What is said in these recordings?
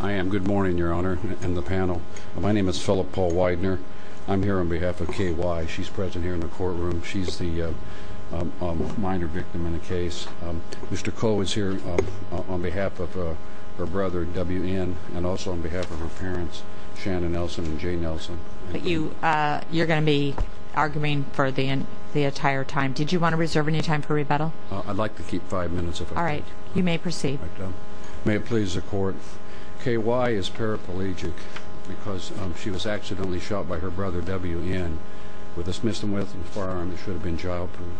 I am. Good morning, Your Honor and the panel. My name is Philip Paul Weidner. I'm here on behalf of KY. She's present here in the courtroom. She's the minor victim in the case. Mr. Koh is here on behalf of her brother WN and also on behalf of her parents, Shannon Nelson and Jay Nelson. But you're going to be arguing for the entire time. Did you want to reserve any time for rebuttal? I'd like to keep five minutes if I could. All right. You may proceed. May it please the Court. KY is paraplegic because she was accidentally shot by her brother WN with a Smith & Wesson firearm that should have been childproof.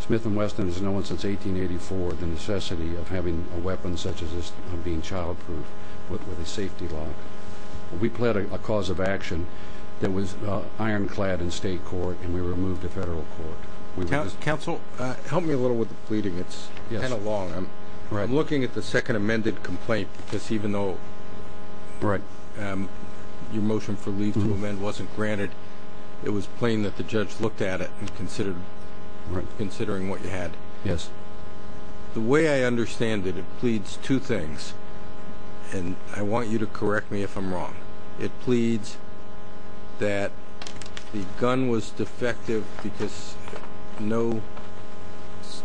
Smith & Wesson has known since 1884 the necessity of having a weapon such as this being childproof with a safety lock. We pleaded a cause of action that was ironclad in state court and we were moved to federal court. Counsel, help me a little with the pleading. It's kind of long. I'm looking at the second amended complaint because even though your motion for leave to amend wasn't granted, it was plain that the judge looked at it and considered what you had. Yes. The way I understand it, it pleads two things, and I want you to correct me if I'm wrong. It pleads that the gun was defective because no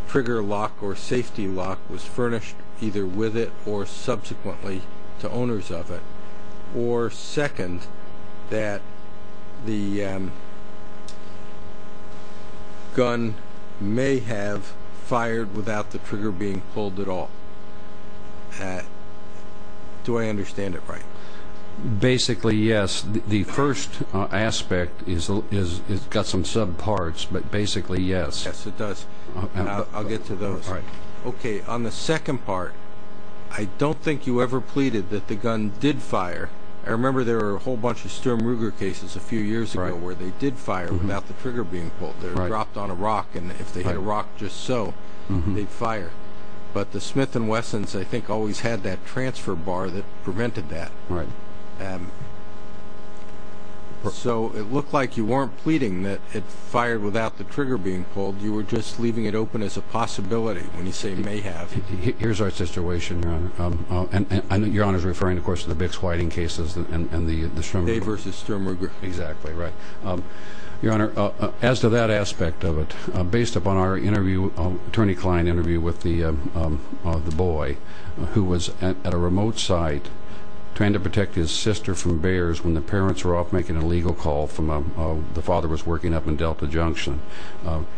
trigger lock or safety lock was furnished either with it or subsequently to owners of it, or second, that the gun may have fired without the trigger being pulled at all. Do I understand it right? Basically, yes. The first aspect has got some sub-parts, but basically, yes. Yes, it does. I'll get to those. All right. Okay, on the second part, I don't think you ever pleaded that the gun did fire. I remember there were a whole bunch of Sturm Ruger cases a few years ago where they did fire without the trigger being pulled. They were dropped on a rock, and if they hit a rock just so, they'd fire. But the Smith & Wessons, I think, always had that transfer bar that prevented that. Right. So it looked like you weren't pleading that it fired without the trigger being pulled. You were just leaving it open as a possibility when you say may have. Here's our situation, Your Honor. I know Your Honor is referring, of course, to the Bix Whiting cases and the Sturm Ruger. Day versus Sturm Ruger. Exactly, right. Your Honor, as to that aspect of it, based upon our attorney-client interview with the boy who was at a remote site trying to protect his sister from bears when the parents were off making a legal call from the father who was working up in Delta Junction.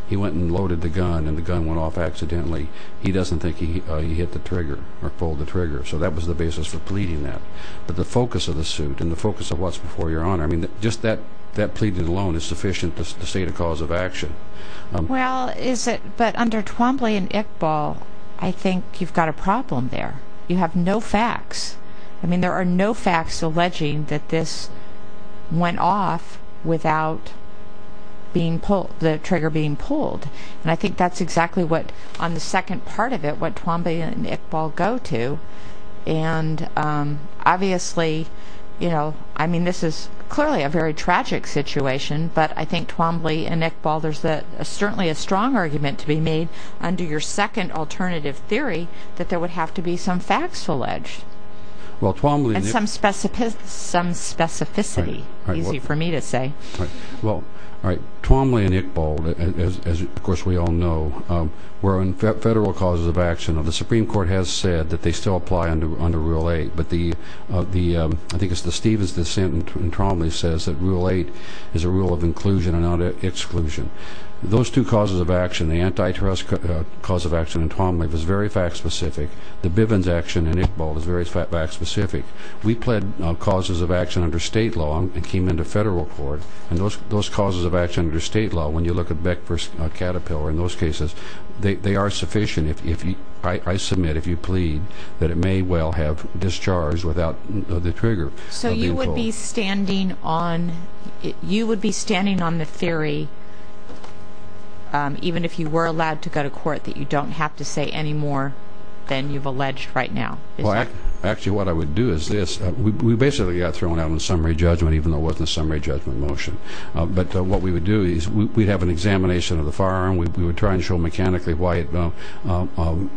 He went and loaded the gun, and the gun went off accidentally. He doesn't think he hit the trigger or pulled the trigger. So that was the basis for pleading that. But the focus of the suit and the focus of what's before you, Your Honor, just that pleading alone is sufficient to state a cause of action. Well, but under Twombly and Iqbal, I think you've got a problem there. You have no facts. I mean, there are no facts alleging that this went off without the trigger being pulled. And I think that's exactly what, on the second part of it, what Twombly and Iqbal go to. And obviously, you know, I mean, this is clearly a very tragic situation, but I think Twombly and Iqbal, there's certainly a strong argument to be made under your second alternative theory that there would have to be some facts alleged and some specificity, easy for me to say. Well, all right, Twombly and Iqbal, as of course we all know, were on federal causes of action. The Supreme Court has said that they still apply under Rule 8, but I think it's the Stevens dissent in Twombly that says that Rule 8 is a rule of inclusion and not exclusion. Those two causes of action, the antitrust cause of action in Twombly was very fact-specific. The Bivens action in Iqbal was very fact-specific. We pled causes of action under state law and came into federal court, and those causes of action under state law, when you look at Beck v. Caterpillar in those cases, they are sufficient, I submit, if you plead, that it may well have discharged without the trigger. So you would be standing on the theory, even if you were allowed to go to court, that you don't have to say any more than you've alleged right now? Well, actually what I would do is this. We basically got thrown out on summary judgment, even though it wasn't a summary judgment motion. But what we would do is we'd have an examination of the firearm. We would try and show mechanically why it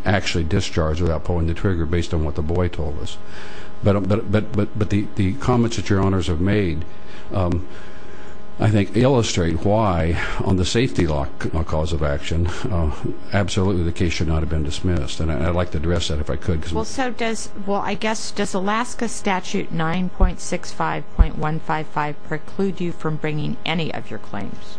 actually discharged without pulling the trigger based on what the boy told us. But the comments that your honors have made, I think, illustrate why, on the safety law cause of action, absolutely the case should not have been dismissed. And I'd like to address that if I could. Well, I guess, does Alaska Statute 9.65.155 preclude you from bringing any of your claims?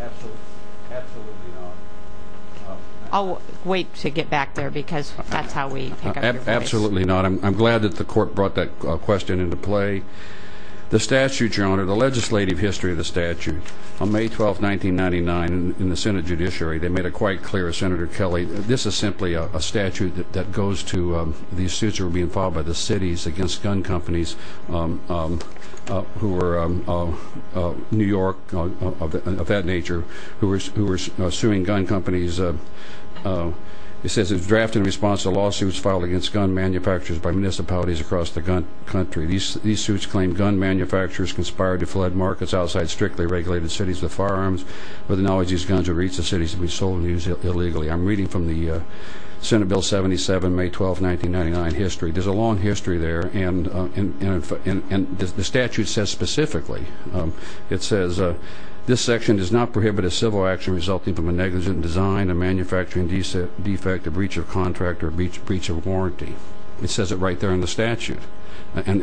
Absolutely not. I'll wait to get back there, because that's how we pick up your voice. Absolutely not. I'm glad that the court brought that question into play. The statute, your honor, the legislative history of the statute, on May 12, 1999, in the Senate Judiciary, they made it quite clear, Senator Kelly, this is simply a statute that goes to these suits that were being filed by the cities against gun companies who were New York, of that nature, who were suing gun companies. It says, it was drafted in response to lawsuits filed against gun manufacturers by municipalities across the country. These suits claim gun manufacturers conspired to flood markets outside strictly regulated cities with firearms with the knowledge these guns would reach the cities and be sold and used illegally. I'm reading from the Senate Bill 77, May 12, 1999, history. There's a long history there, and the statute says specifically, it says, this section does not prohibit a civil action resulting from a negligent design, a manufacturing defect, a breach of contract, or a breach of warranty. It says it right there in the statute. And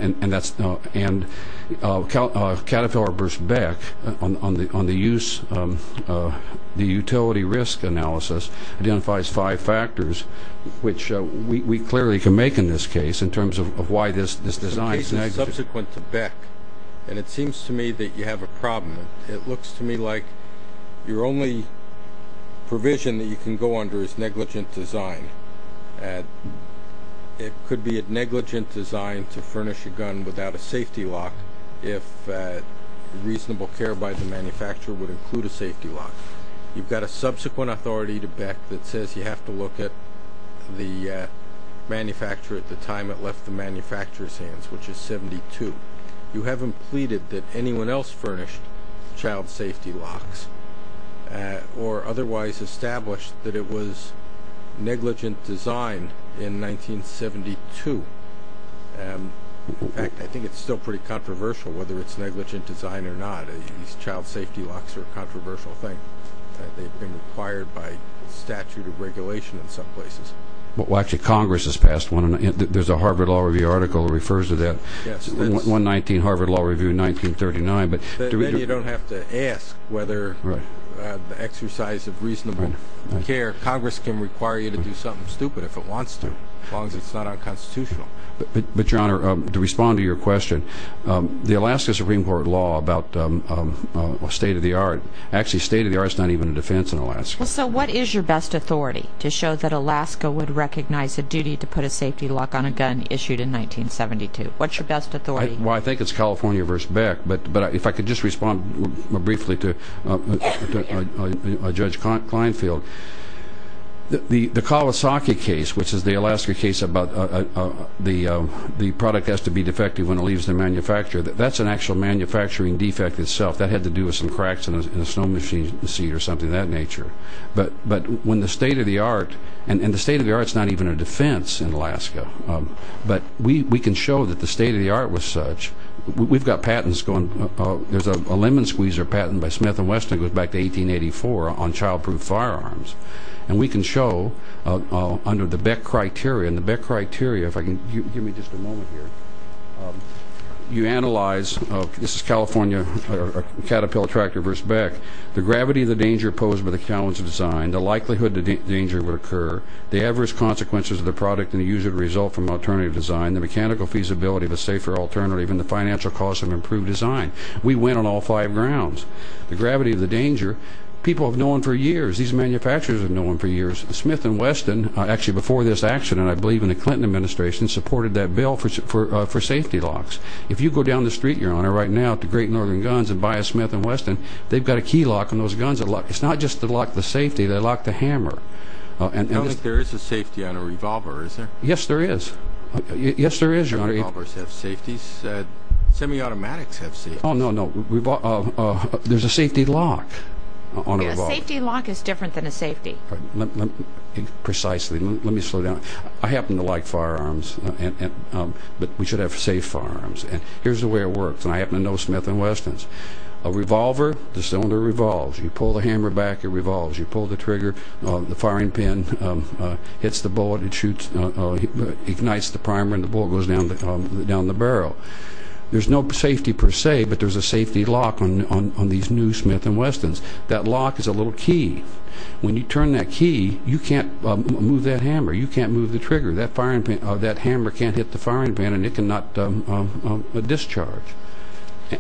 Caterpillar v. Beck, on the use, the utility risk analysis, identifies five factors, which we clearly can make in this case in terms of why this design is negligent. The case is subsequent to Beck, and it seems to me that you have a problem. It looks to me like your only provision that you can go under is negligent design. It could be a negligent design to furnish a gun without a safety lock if reasonable care by the manufacturer would include a safety lock. You've got a subsequent authority to Beck that says you have to look at the manufacturer at the time it left the manufacturer's hands, which is 72. You haven't pleaded that anyone else furnished child safety locks or otherwise established that it was negligent design in 1972. In fact, I think it's still pretty controversial whether it's negligent design or not. These child safety locks are a controversial thing. They've been required by statute of regulation in some places. Actually, Congress has passed one. There's a Harvard Law Review article that refers to that, 119 Harvard Law Review 1939. Then you don't have to ask whether the exercise of reasonable care, Congress can require you to do something stupid if it wants to, as long as it's not unconstitutional. But, Your Honor, to respond to your question, the Alaska Supreme Court law about state of the art, actually state of the art is not even a defense in Alaska. Well, so what is your best authority to show that Alaska would recognize a duty to put a safety lock on a gun issued in 1972? What's your best authority? Well, I think it's California v. Beck. But if I could just respond more briefly to Judge Kleinfeld. The Kawasaki case, which is the Alaska case about the product has to be defective when it leaves the manufacturer, that's an actual manufacturing defect itself. That had to do with some cracks in a snow machine seat or something of that nature. But when the state of the art, and the state of the art is not even a defense in Alaska, but we can show that the state of the art was such. We've got patents going. There's a lemon squeezer patent by Smith & Wesson that goes back to 1884 on child-proof firearms. And we can show under the Beck criteria, and the Beck criteria, if I can, give me just a moment here. You analyze, this is California Caterpillar Tractor v. Beck. The gravity of the danger posed by the challenge of design, the likelihood the danger would occur, the adverse consequences of the product and the user to result from alternative design, the mechanical feasibility of a safer alternative, and the financial cost of improved design. We win on all five grounds. The gravity of the danger, people have known for years, these manufacturers have known for years, Smith & Wesson, actually before this accident, I believe in the Clinton administration, supported that bill for safety locks. If you go down the street, Your Honor, right now to Great Northern Guns and buy a Smith & Wesson, they've got a key lock on those guns. It's not just to lock the safety, they lock the hammer. I don't think there is a safety on a revolver, is there? Yes, there is. Yes, there is, Your Honor. Do revolvers have safeties? Semi-automatics have safeties. Oh, no, no. There's a safety lock on a revolver. A safety lock is different than a safety. Precisely. Let me slow down. I happen to like firearms, but we should have safe firearms. And here's the way it works, and I happen to know Smith & Wessons. A revolver, the cylinder revolves. You pull the hammer back, it revolves. You pull the trigger, the firing pin hits the bullet and ignites the primer and the bullet goes down the barrel. There's no safety per se, but there's a safety lock on these new Smith & Wessons. That lock is a little key. When you turn that key, you can't move that hammer. You can't move the trigger. That hammer can't hit the firing pin and it cannot discharge.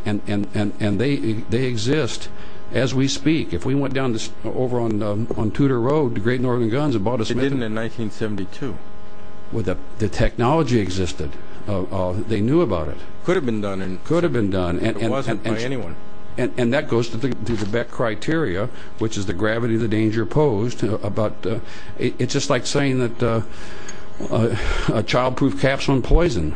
And they exist as we speak. If we went down over on Tudor Road to Great Northern Guns and bought a Smith & Wesson... They didn't in 1972. The technology existed. They knew about it. Could have been done. Could have been done. It wasn't by anyone. And that goes to the Beck criteria, which is the gravity of the danger posed. It's just like saying that a child-proof capsule in poison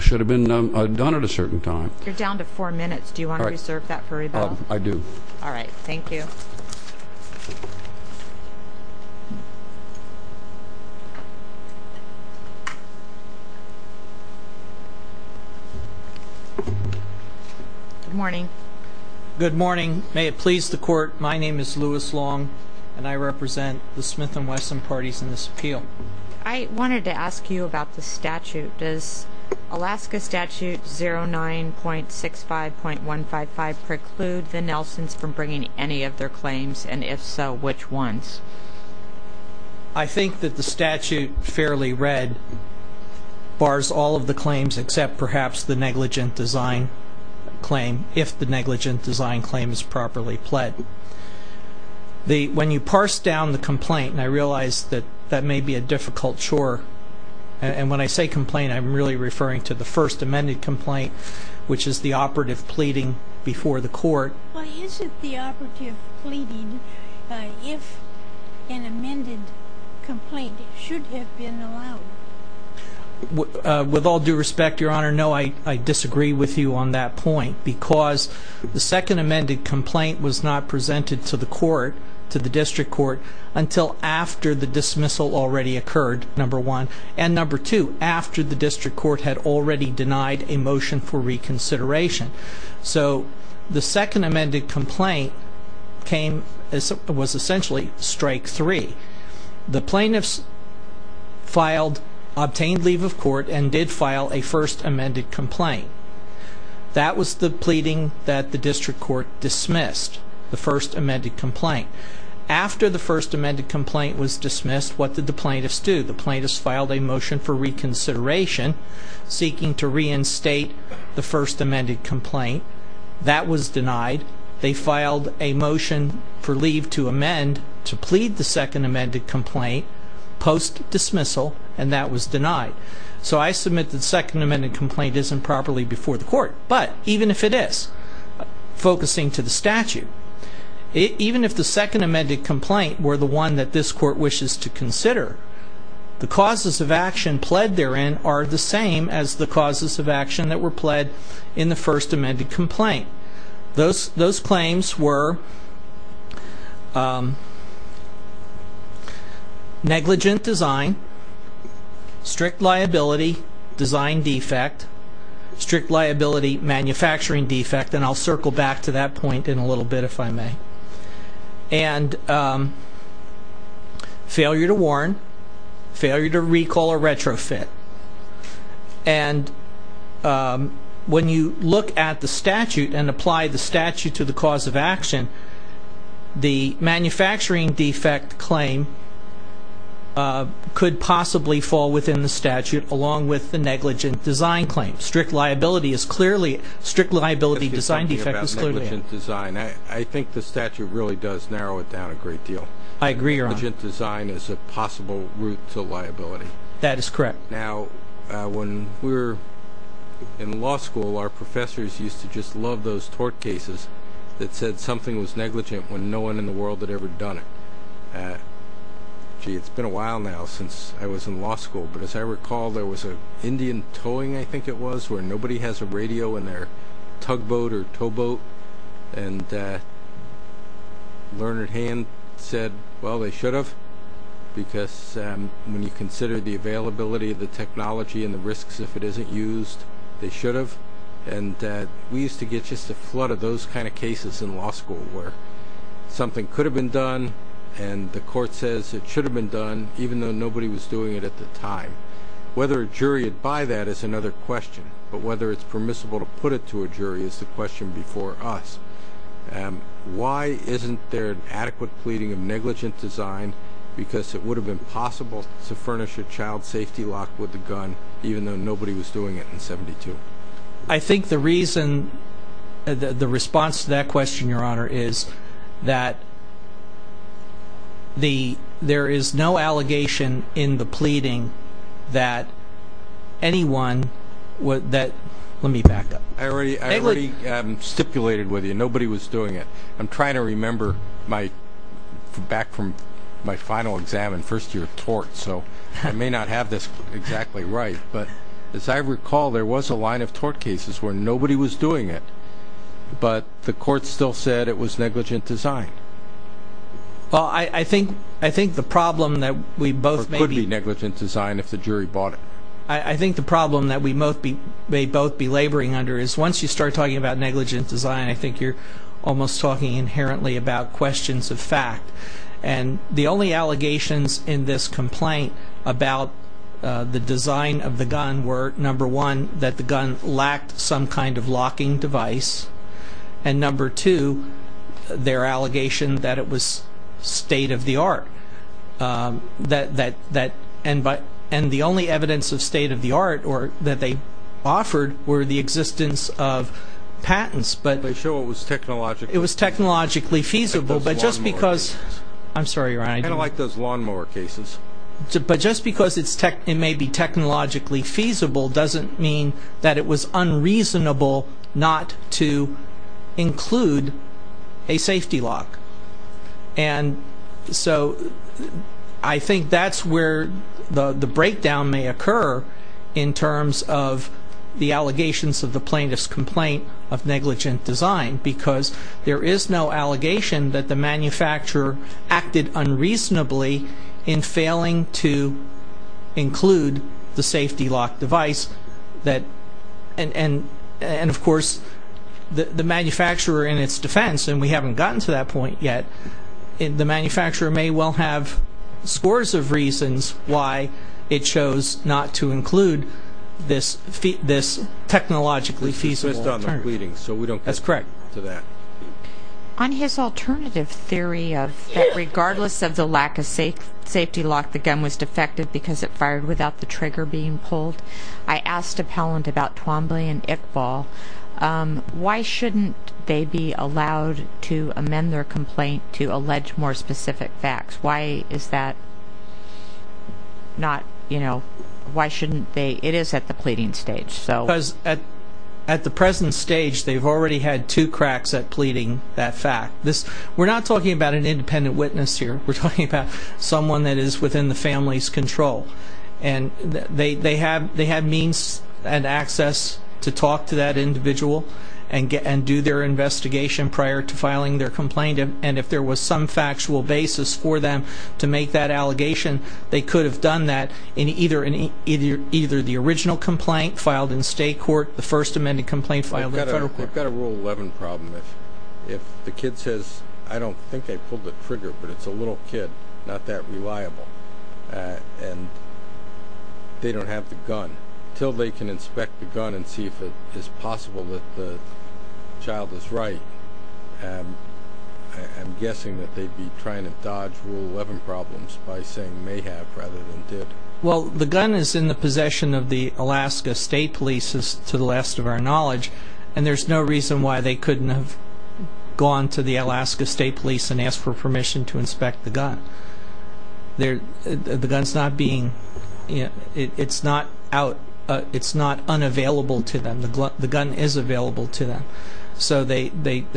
should have been done at a certain time. You're down to four minutes. Do you want to reserve that for rebuttal? I do. All right. Thank you. Good morning. Good morning. May it please the Court, my name is Louis Long, and I represent the Smith & Wesson parties in this appeal. I wanted to ask you about the statute. Does Alaska Statute 09.65.155 preclude the Nelsons from bringing any of their claims? And if so, which ones? I think that the statute, fairly read, bars all of the claims except perhaps the negligent design claim, if the negligent design claim is properly pled. When you parse down the complaint, and I realize that that may be a difficult chore, and when I say complaint I'm really referring to the first amended complaint, which is the operative pleading before the Court. Why isn't the operative pleading if an amended complaint should have been allowed? With all due respect, Your Honor, no, I disagree with you on that point because the second amended complaint was not presented to the court, to the district court, until after the dismissal already occurred, number one, and number two, after the district court had already denied a motion for reconsideration. So the second amended complaint was essentially strike three. The plaintiffs obtained leave of court and did file a first amended complaint. That was the pleading that the district court dismissed, the first amended complaint. After the first amended complaint was dismissed, what did the plaintiffs do? The plaintiffs filed a motion for reconsideration seeking to reinstate the first amended complaint. That was denied. They filed a motion for leave to amend to plead the second amended complaint post-dismissal, and that was denied. So I submit that the second amended complaint isn't properly before the court, but even if it is, focusing to the statute, even if the second amended complaint were the one that this court wishes to consider, the causes of action pled therein are the same as the causes of action that were pled in the first amended complaint. Those claims were negligent design, strict liability, design defect, strict liability, manufacturing defect, and I'll circle back to that point in a little bit if I may, and failure to warn, failure to recall or retrofit. And when you look at the statute and apply the statute to the cause of action, the manufacturing defect claim could possibly fall within the statute along with the negligent design claim. Strict liability is clearly, strict liability, design defect is clearly. I think the statute really does narrow it down a great deal. I agree, Your Honor. Negligent design is a possible route to liability. That is correct. Now, when we were in law school, our professors used to just love those tort cases that said something was negligent when no one in the world had ever done it. Gee, it's been a while now since I was in law school, but as I recall, there was an Indian towing, I think it was, where nobody has a radio in their tugboat or towboat, and Learned Hand said, well, they should have, because when you consider the availability of the technology and the risks, if it isn't used, they should have. And we used to get just a flood of those kind of cases in law school where something could have been done and the court says it should have been done even though nobody was doing it at the time. Whether a jury would buy that is another question, but whether it's permissible to put it to a jury is the question before us. Why isn't there an adequate pleading of negligent design? Because it would have been possible to furnish a child safety lock with a gun even though nobody was doing it in 72. I think the reason, the response to that question, Your Honor, is that there is no allegation in the pleading that anyone would, let me back up. I already stipulated with you, nobody was doing it. I'm trying to remember back from my final exam in first year of tort, so I may not have this exactly right, but as I recall, there was a line of tort cases where nobody was doing it, but the court still said it was negligent design. Well, I think the problem that we both may be... Or it could be negligent design if the jury bought it. I think the problem that we may both be laboring under is once you start talking about negligent design, I think you're almost talking inherently about questions of fact, and the only allegations in this complaint about the design of the gun were, number one, that the gun lacked some kind of locking device, and number two, their allegation that it was state-of-the-art. And the only evidence of state-of-the-art that they offered were the existence of patents. They show it was technologically feasible. It was technologically feasible, but just because... I'm sorry, Your Honor. Kind of like those lawnmower cases. But just because it may be technologically feasible doesn't mean that it was unreasonable not to include a safety lock. And so I think that's where the breakdown may occur in terms of the allegations of the plaintiff's complaint of negligent design, because there is no allegation that the manufacturer acted unreasonably in failing to include the safety lock device. And, of course, the manufacturer in its defense, and we haven't gotten to that point yet, the manufacturer may well have scores of reasons why it chose not to include this technologically feasible alternative. Based on the pleading, so we don't get to that. That's correct. On his alternative theory of that regardless of the lack of safety lock, the gun was defective because it fired without the trigger being pulled, I asked appellant about Twombly and Iqbal. Why shouldn't they be allowed to amend their complaint to allege more specific facts? Why is that not, you know, why shouldn't they? It is at the pleading stage. Because at the present stage, they've already had two cracks at pleading that fact. We're not talking about an independent witness here. We're talking about someone that is within the family's control. And they have means and access to talk to that individual and do their investigation prior to filing their complaint, and if there was some factual basis for them to make that allegation, they could have done that in either the original complaint filed in state court, the first amended complaint filed in federal court. We've got a Rule 11 problem. If the kid says, I don't think I pulled the trigger, but it's a little kid, not that reliable, and they don't have the gun, until they can inspect the gun and see if it's possible that the child is right, I'm guessing that they'd be trying to dodge Rule 11 problems by saying may have rather than did. Well, the gun is in the possession of the Alaska State Police, to the last of our knowledge, and there's no reason why they couldn't have gone to the Alaska State Police and asked for permission to inspect the gun. The gun's not being, it's not unavailable to them. The gun is available to them. So they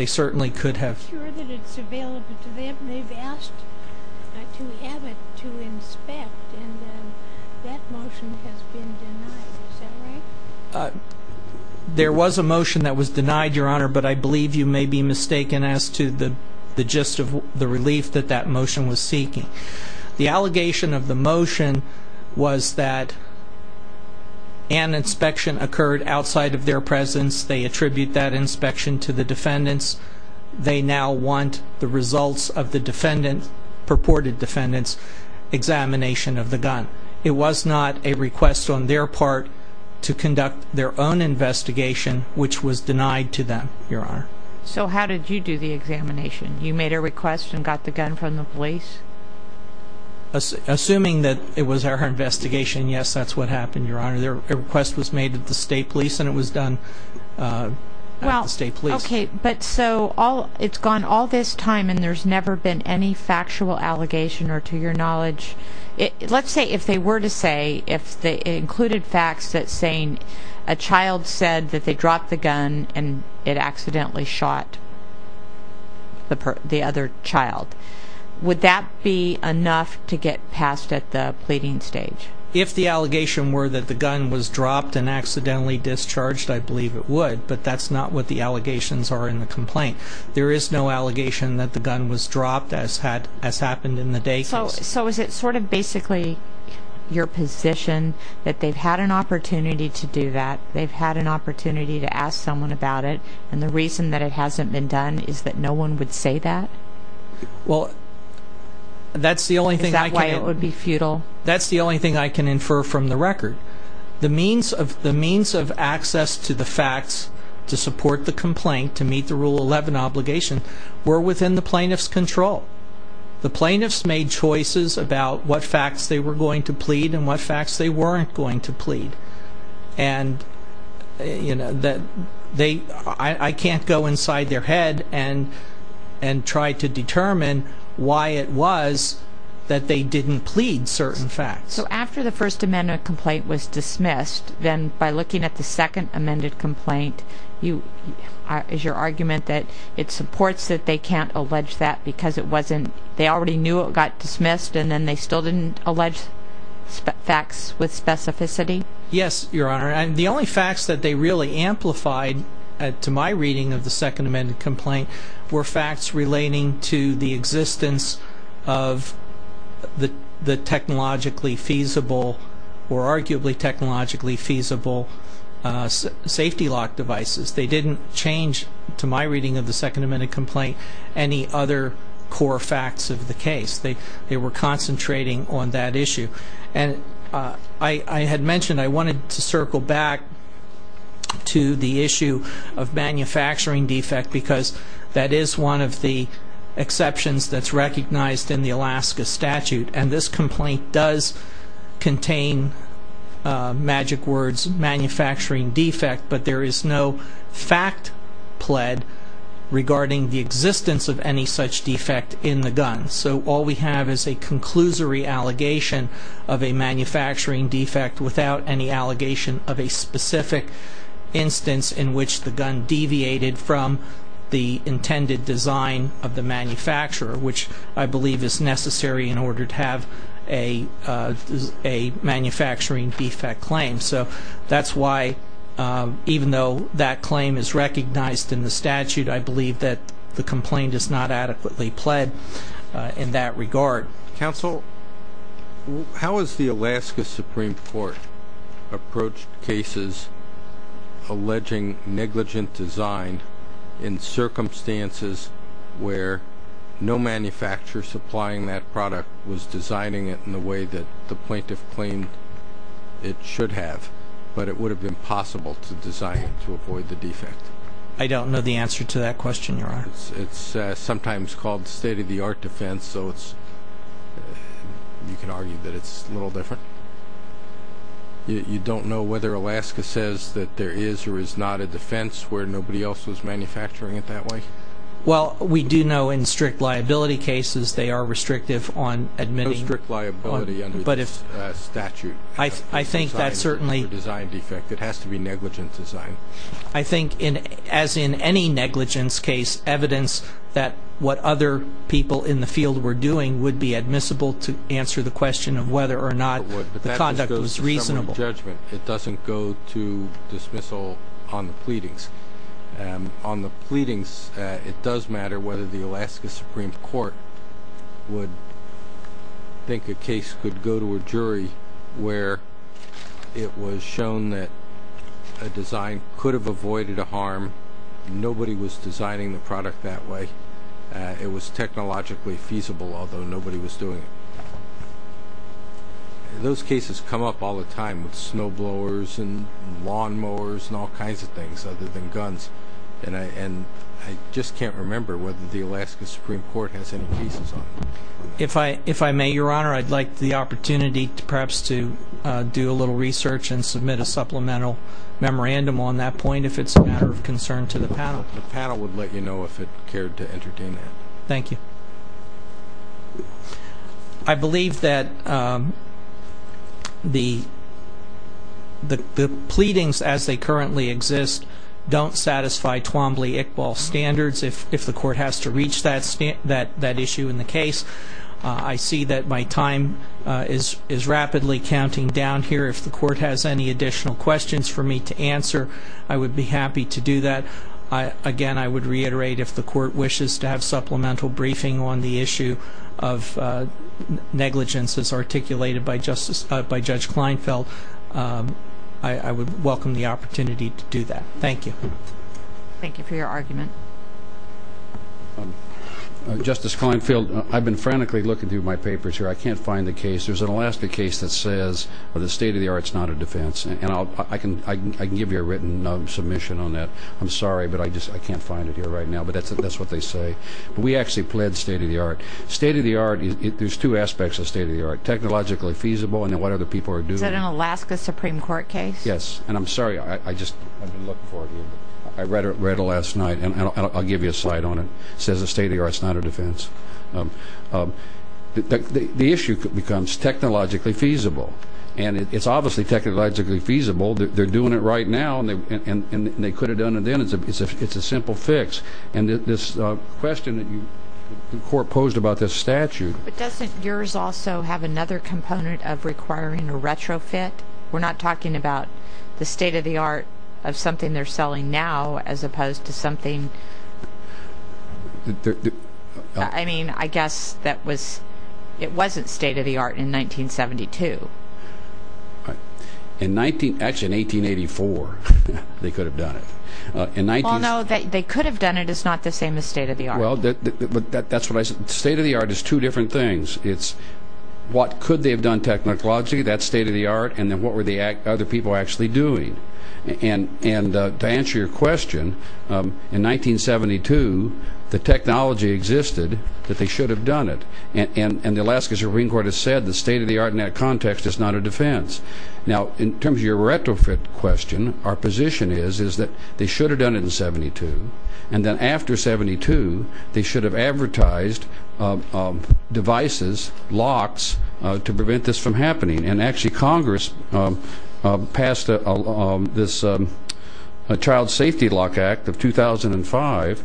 certainly could have. I'm not sure that it's available to them. They've asked to have it to inspect, and that motion has been denied. Is that right? There was a motion that was denied, Your Honor, but I believe you may be mistaken as to the gist of the relief that that motion was seeking. The allegation of the motion was that an inspection occurred outside of their presence. They attribute that inspection to the defendants. They now want the results of the purported defendant's examination of the gun. It was not a request on their part to conduct their own investigation, which was denied to them, Your Honor. So how did you do the examination? You made a request and got the gun from the police? Assuming that it was our investigation, yes, that's what happened, Your Honor. A request was made at the State Police, and it was done at the State Police. Okay, but so it's gone all this time, and there's never been any factual allegation or, to your knowledge, let's say if they were to say, if it included facts that saying a child said that they dropped the gun and it accidentally shot the other child, would that be enough to get passed at the pleading stage? If the allegation were that the gun was dropped and accidentally discharged, I believe it would, but that's not what the allegations are in the complaint. There is no allegation that the gun was dropped, as happened in the Day case. So is it sort of basically your position that they've had an opportunity to do that, they've had an opportunity to ask someone about it, and the reason that it hasn't been done is that no one would say that? Is that why it would be futile? That's the only thing I can infer from the record. The means of access to the facts to support the complaint to meet the Rule 11 obligation were within the plaintiff's control. The plaintiffs made choices about what facts they were going to plead and what facts they weren't going to plead, and I can't go inside their head and try to determine why it was that they didn't plead certain facts. So after the First Amendment complaint was dismissed, then by looking at the Second Amendment complaint, is your argument that it supports that they can't allege that because they already knew it got dismissed and then they still didn't allege facts with specificity? Yes, Your Honor. The only facts that they really amplified to my reading of the Second Amendment complaint were facts relating to the existence of the technologically feasible or arguably technologically feasible safety lock devices. They didn't change, to my reading of the Second Amendment complaint, any other core facts of the case. They were concentrating on that issue. And I had mentioned I wanted to circle back to the issue of manufacturing defect because that is one of the exceptions that's recognized in the Alaska statute. And this complaint does contain, magic words, manufacturing defect, but there is no fact plead regarding the existence of any such defect in the gun. So all we have is a conclusory allegation of a manufacturing defect without any allegation of a specific instance in which the gun deviated from the intended design of the manufacturer, which I believe is necessary in order to have a manufacturing defect claim. So that's why, even though that claim is recognized in the statute, I believe that the complaint is not adequately pled in that regard. Counsel, how has the Alaska Supreme Court approached cases alleging negligent design in circumstances where no manufacturer supplying that product was designing it in the way that the plaintiff claimed it should have, but it would have been possible to design it to avoid the defect? I don't know the answer to that question, Your Honor. It's sometimes called state-of-the-art defense, so you can argue that it's a little different? You don't know whether Alaska says that there is or is not a defense where nobody else was manufacturing it that way? Well, we do know in strict liability cases they are restrictive on admitting... No strict liability under this statute. I think that certainly... It has to be negligent design. I think, as in any negligence case, evidence that what other people in the field were doing would be admissible to answer the question of whether or not the conduct was reasonable. It doesn't go to dismissal on the pleadings. On the pleadings, it does matter whether the Alaska Supreme Court would think a case could go to a jury where it was shown that a design could have avoided a harm, nobody was designing the product that way, it was technologically feasible although nobody was doing it. Those cases come up all the time with snowblowers and lawnmowers and all kinds of things other than guns, and I just can't remember whether the Alaska Supreme Court has any cases on it. If I may, Your Honor, I'd like the opportunity perhaps to do a little research and submit a supplemental memorandum on that point if it's a matter of concern to the panel. The panel would let you know if it cared to entertain that. Thank you. I believe that the pleadings as they currently exist don't satisfy Twombly-Iqbal standards. If the court has to reach that issue in the case, I see that my time is rapidly counting down here. If the court has any additional questions for me to answer, I would be happy to do that. Again, I would reiterate if the court wishes to have supplemental briefing on the issue of negligences articulated by Judge Kleinfeld, I would welcome the opportunity to do that. Thank you. Thank you for your argument. Justice Kleinfeld, I've been frantically looking through my papers here. I can't find the case. There's an Alaska case that says the state of the art is not a defense, and I can give you a written submission on that. I'm sorry, but I can't find it here right now, but that's what they say. We actually plead state of the art. State of the art, there's two aspects of state of the art, technologically feasible and then what other people are doing. Is that an Alaska Supreme Court case? Yes, and I'm sorry, I've been looking for it here. I read it last night, and I'll give you a slide on it. It says the state of the art is not a defense. The issue becomes technologically feasible, and it's obviously technologically feasible. They're doing it right now, and they could have done it then. It's a simple fix. And this question that the court posed about this statute. But doesn't yours also have another component of requiring a retrofit? We're not talking about the state of the art of something they're selling now as opposed to something, I mean, I guess that was, it wasn't state of the art in 1972. Actually, in 1884 they could have done it. Well, no, they could have done it. It's not the same as state of the art. State of the art is two different things. It's what could they have done technologically, that's state of the art, and then what were the other people actually doing. And to answer your question, in 1972 the technology existed that they should have done it. And the Alaska Supreme Court has said the state of the art in that context is not a defense. Now, in terms of your retrofit question, our position is that they should have done it in 72, and then after 72 they should have advertised devices, locks, to prevent this from happening. And actually Congress passed this Child Safety Lock Act of 2005,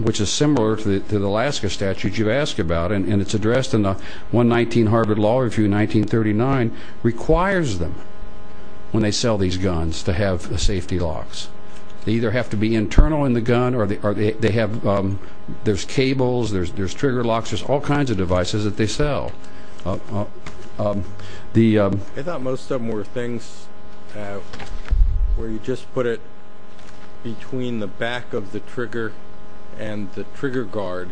which is similar to the Alaska statute you asked about, and it's addressed in the 119 Harvard Law Review in 1939, requires them when they sell these guns to have safety locks. They either have to be internal in the gun or they have, there's cables, there's trigger locks, there's all kinds of devices that they sell. I thought most of them were things where you just put it between the back of the trigger and the trigger guard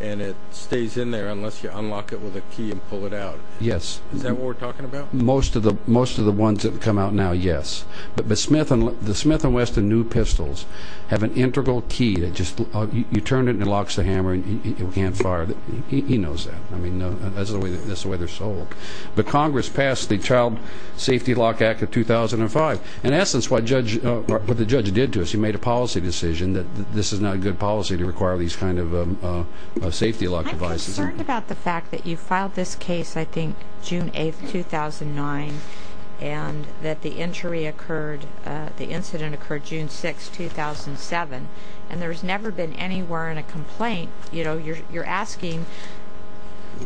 and it stays in there unless you unlock it with a key and pull it out. Yes. Is that what we're talking about? Most of the ones that come out now, yes. But the Smith & Wesson new pistols have an integral key that just, you turn it and it locks the hammer and you can't fire. He knows that. That's the way they're sold. But Congress passed the Child Safety Lock Act of 2005. In essence what the judge did to us, he made a policy decision that this is not a good policy to require these kinds of safety lock devices. I'm concerned about the fact that you filed this case, I think, June 8, 2009, and that the incident occurred June 6, 2007, and there's never been anywhere in a complaint, you know, you're asking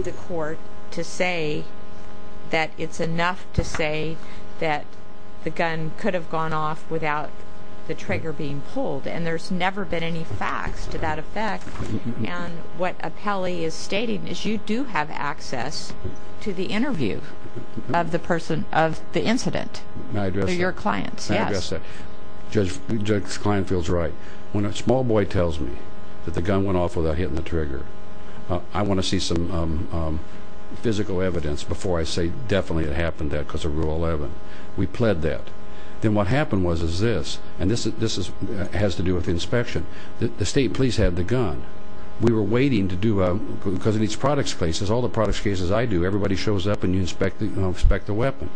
the court to say that it's enough to say that the gun could have gone off without the trigger being pulled, and there's never been any facts to that effect. And what Apelli is stating is you do have access to the interview of the person of the incident. May I address that? They're your clients, yes. May I address that? Judge Kline feels right. When a small boy tells me that the gun went off without hitting the trigger, I want to see some physical evidence before I say definitely it happened because of Rule 11. We pled that. Then what happened was this, and this has to do with inspection. The state police had the gun. We were waiting to do a, because in these products cases, all the products cases I do, everybody shows up and you inspect the weapon.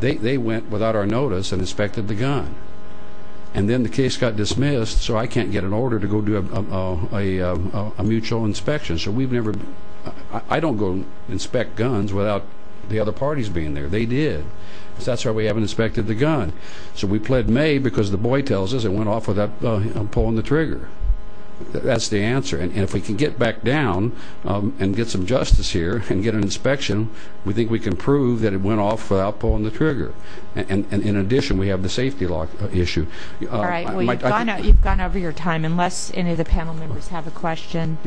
They went without our notice and inspected the gun. And then the case got dismissed so I can't get an order to go do a mutual inspection. So we've never, I don't go inspect guns without the other parties being there. They did. So that's why we haven't inspected the gun. So we pled May because the boy tells us it went off without pulling the trigger. That's the answer. And if we can get back down and get some justice here and get an inspection, we think we can prove that it went off without pulling the trigger. And in addition, we have the safety lock issue. All right. Well, you've gone over your time unless any of the panel members have a question.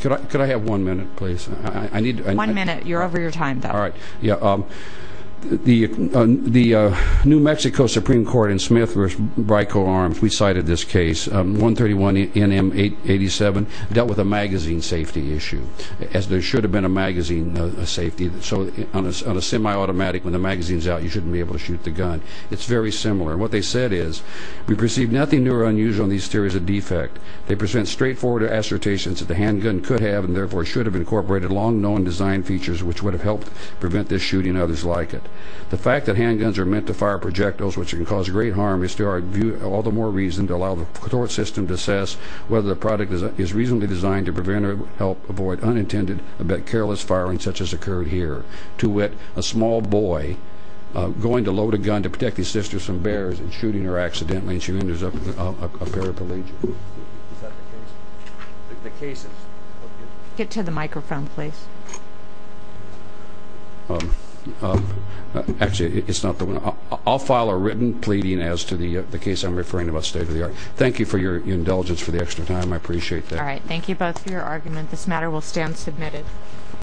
Could I have one minute, please? One minute. You're over your time, though. All right. Yeah. The New Mexico Supreme Court in Smith v. Brico Arms, we cited this case, 131 NM 887, dealt with a magazine safety issue, as there should have been a magazine safety. So on a semi-automatic, when the magazine's out, you shouldn't be able to shoot the gun. It's very similar. And what they said is, we perceive nothing new or unusual in these theories of defect. They present straightforward assertions that the handgun could have and therefore should have incorporated long-known design features which would have helped prevent this shooting and others like it. The fact that handguns are meant to fire projectiles, which can cause great harm, is to our view all the more reason to allow the court system to assess whether the product is reasonably designed to prevent or help avoid unintended, but careless firing such as occurred here. To wit, a small boy going to load a gun to protect his sister from bears and shooting her accidentally and she ends up with a paraplegic. Is that the case? The case is? Get to the microphone, please. Actually, it's not the one. I'll file a written pleading as to the case I'm referring about state of the art. Thank you for your indulgence for the extra time. I appreciate that. Thank you both for your argument. This matter will stand submitted.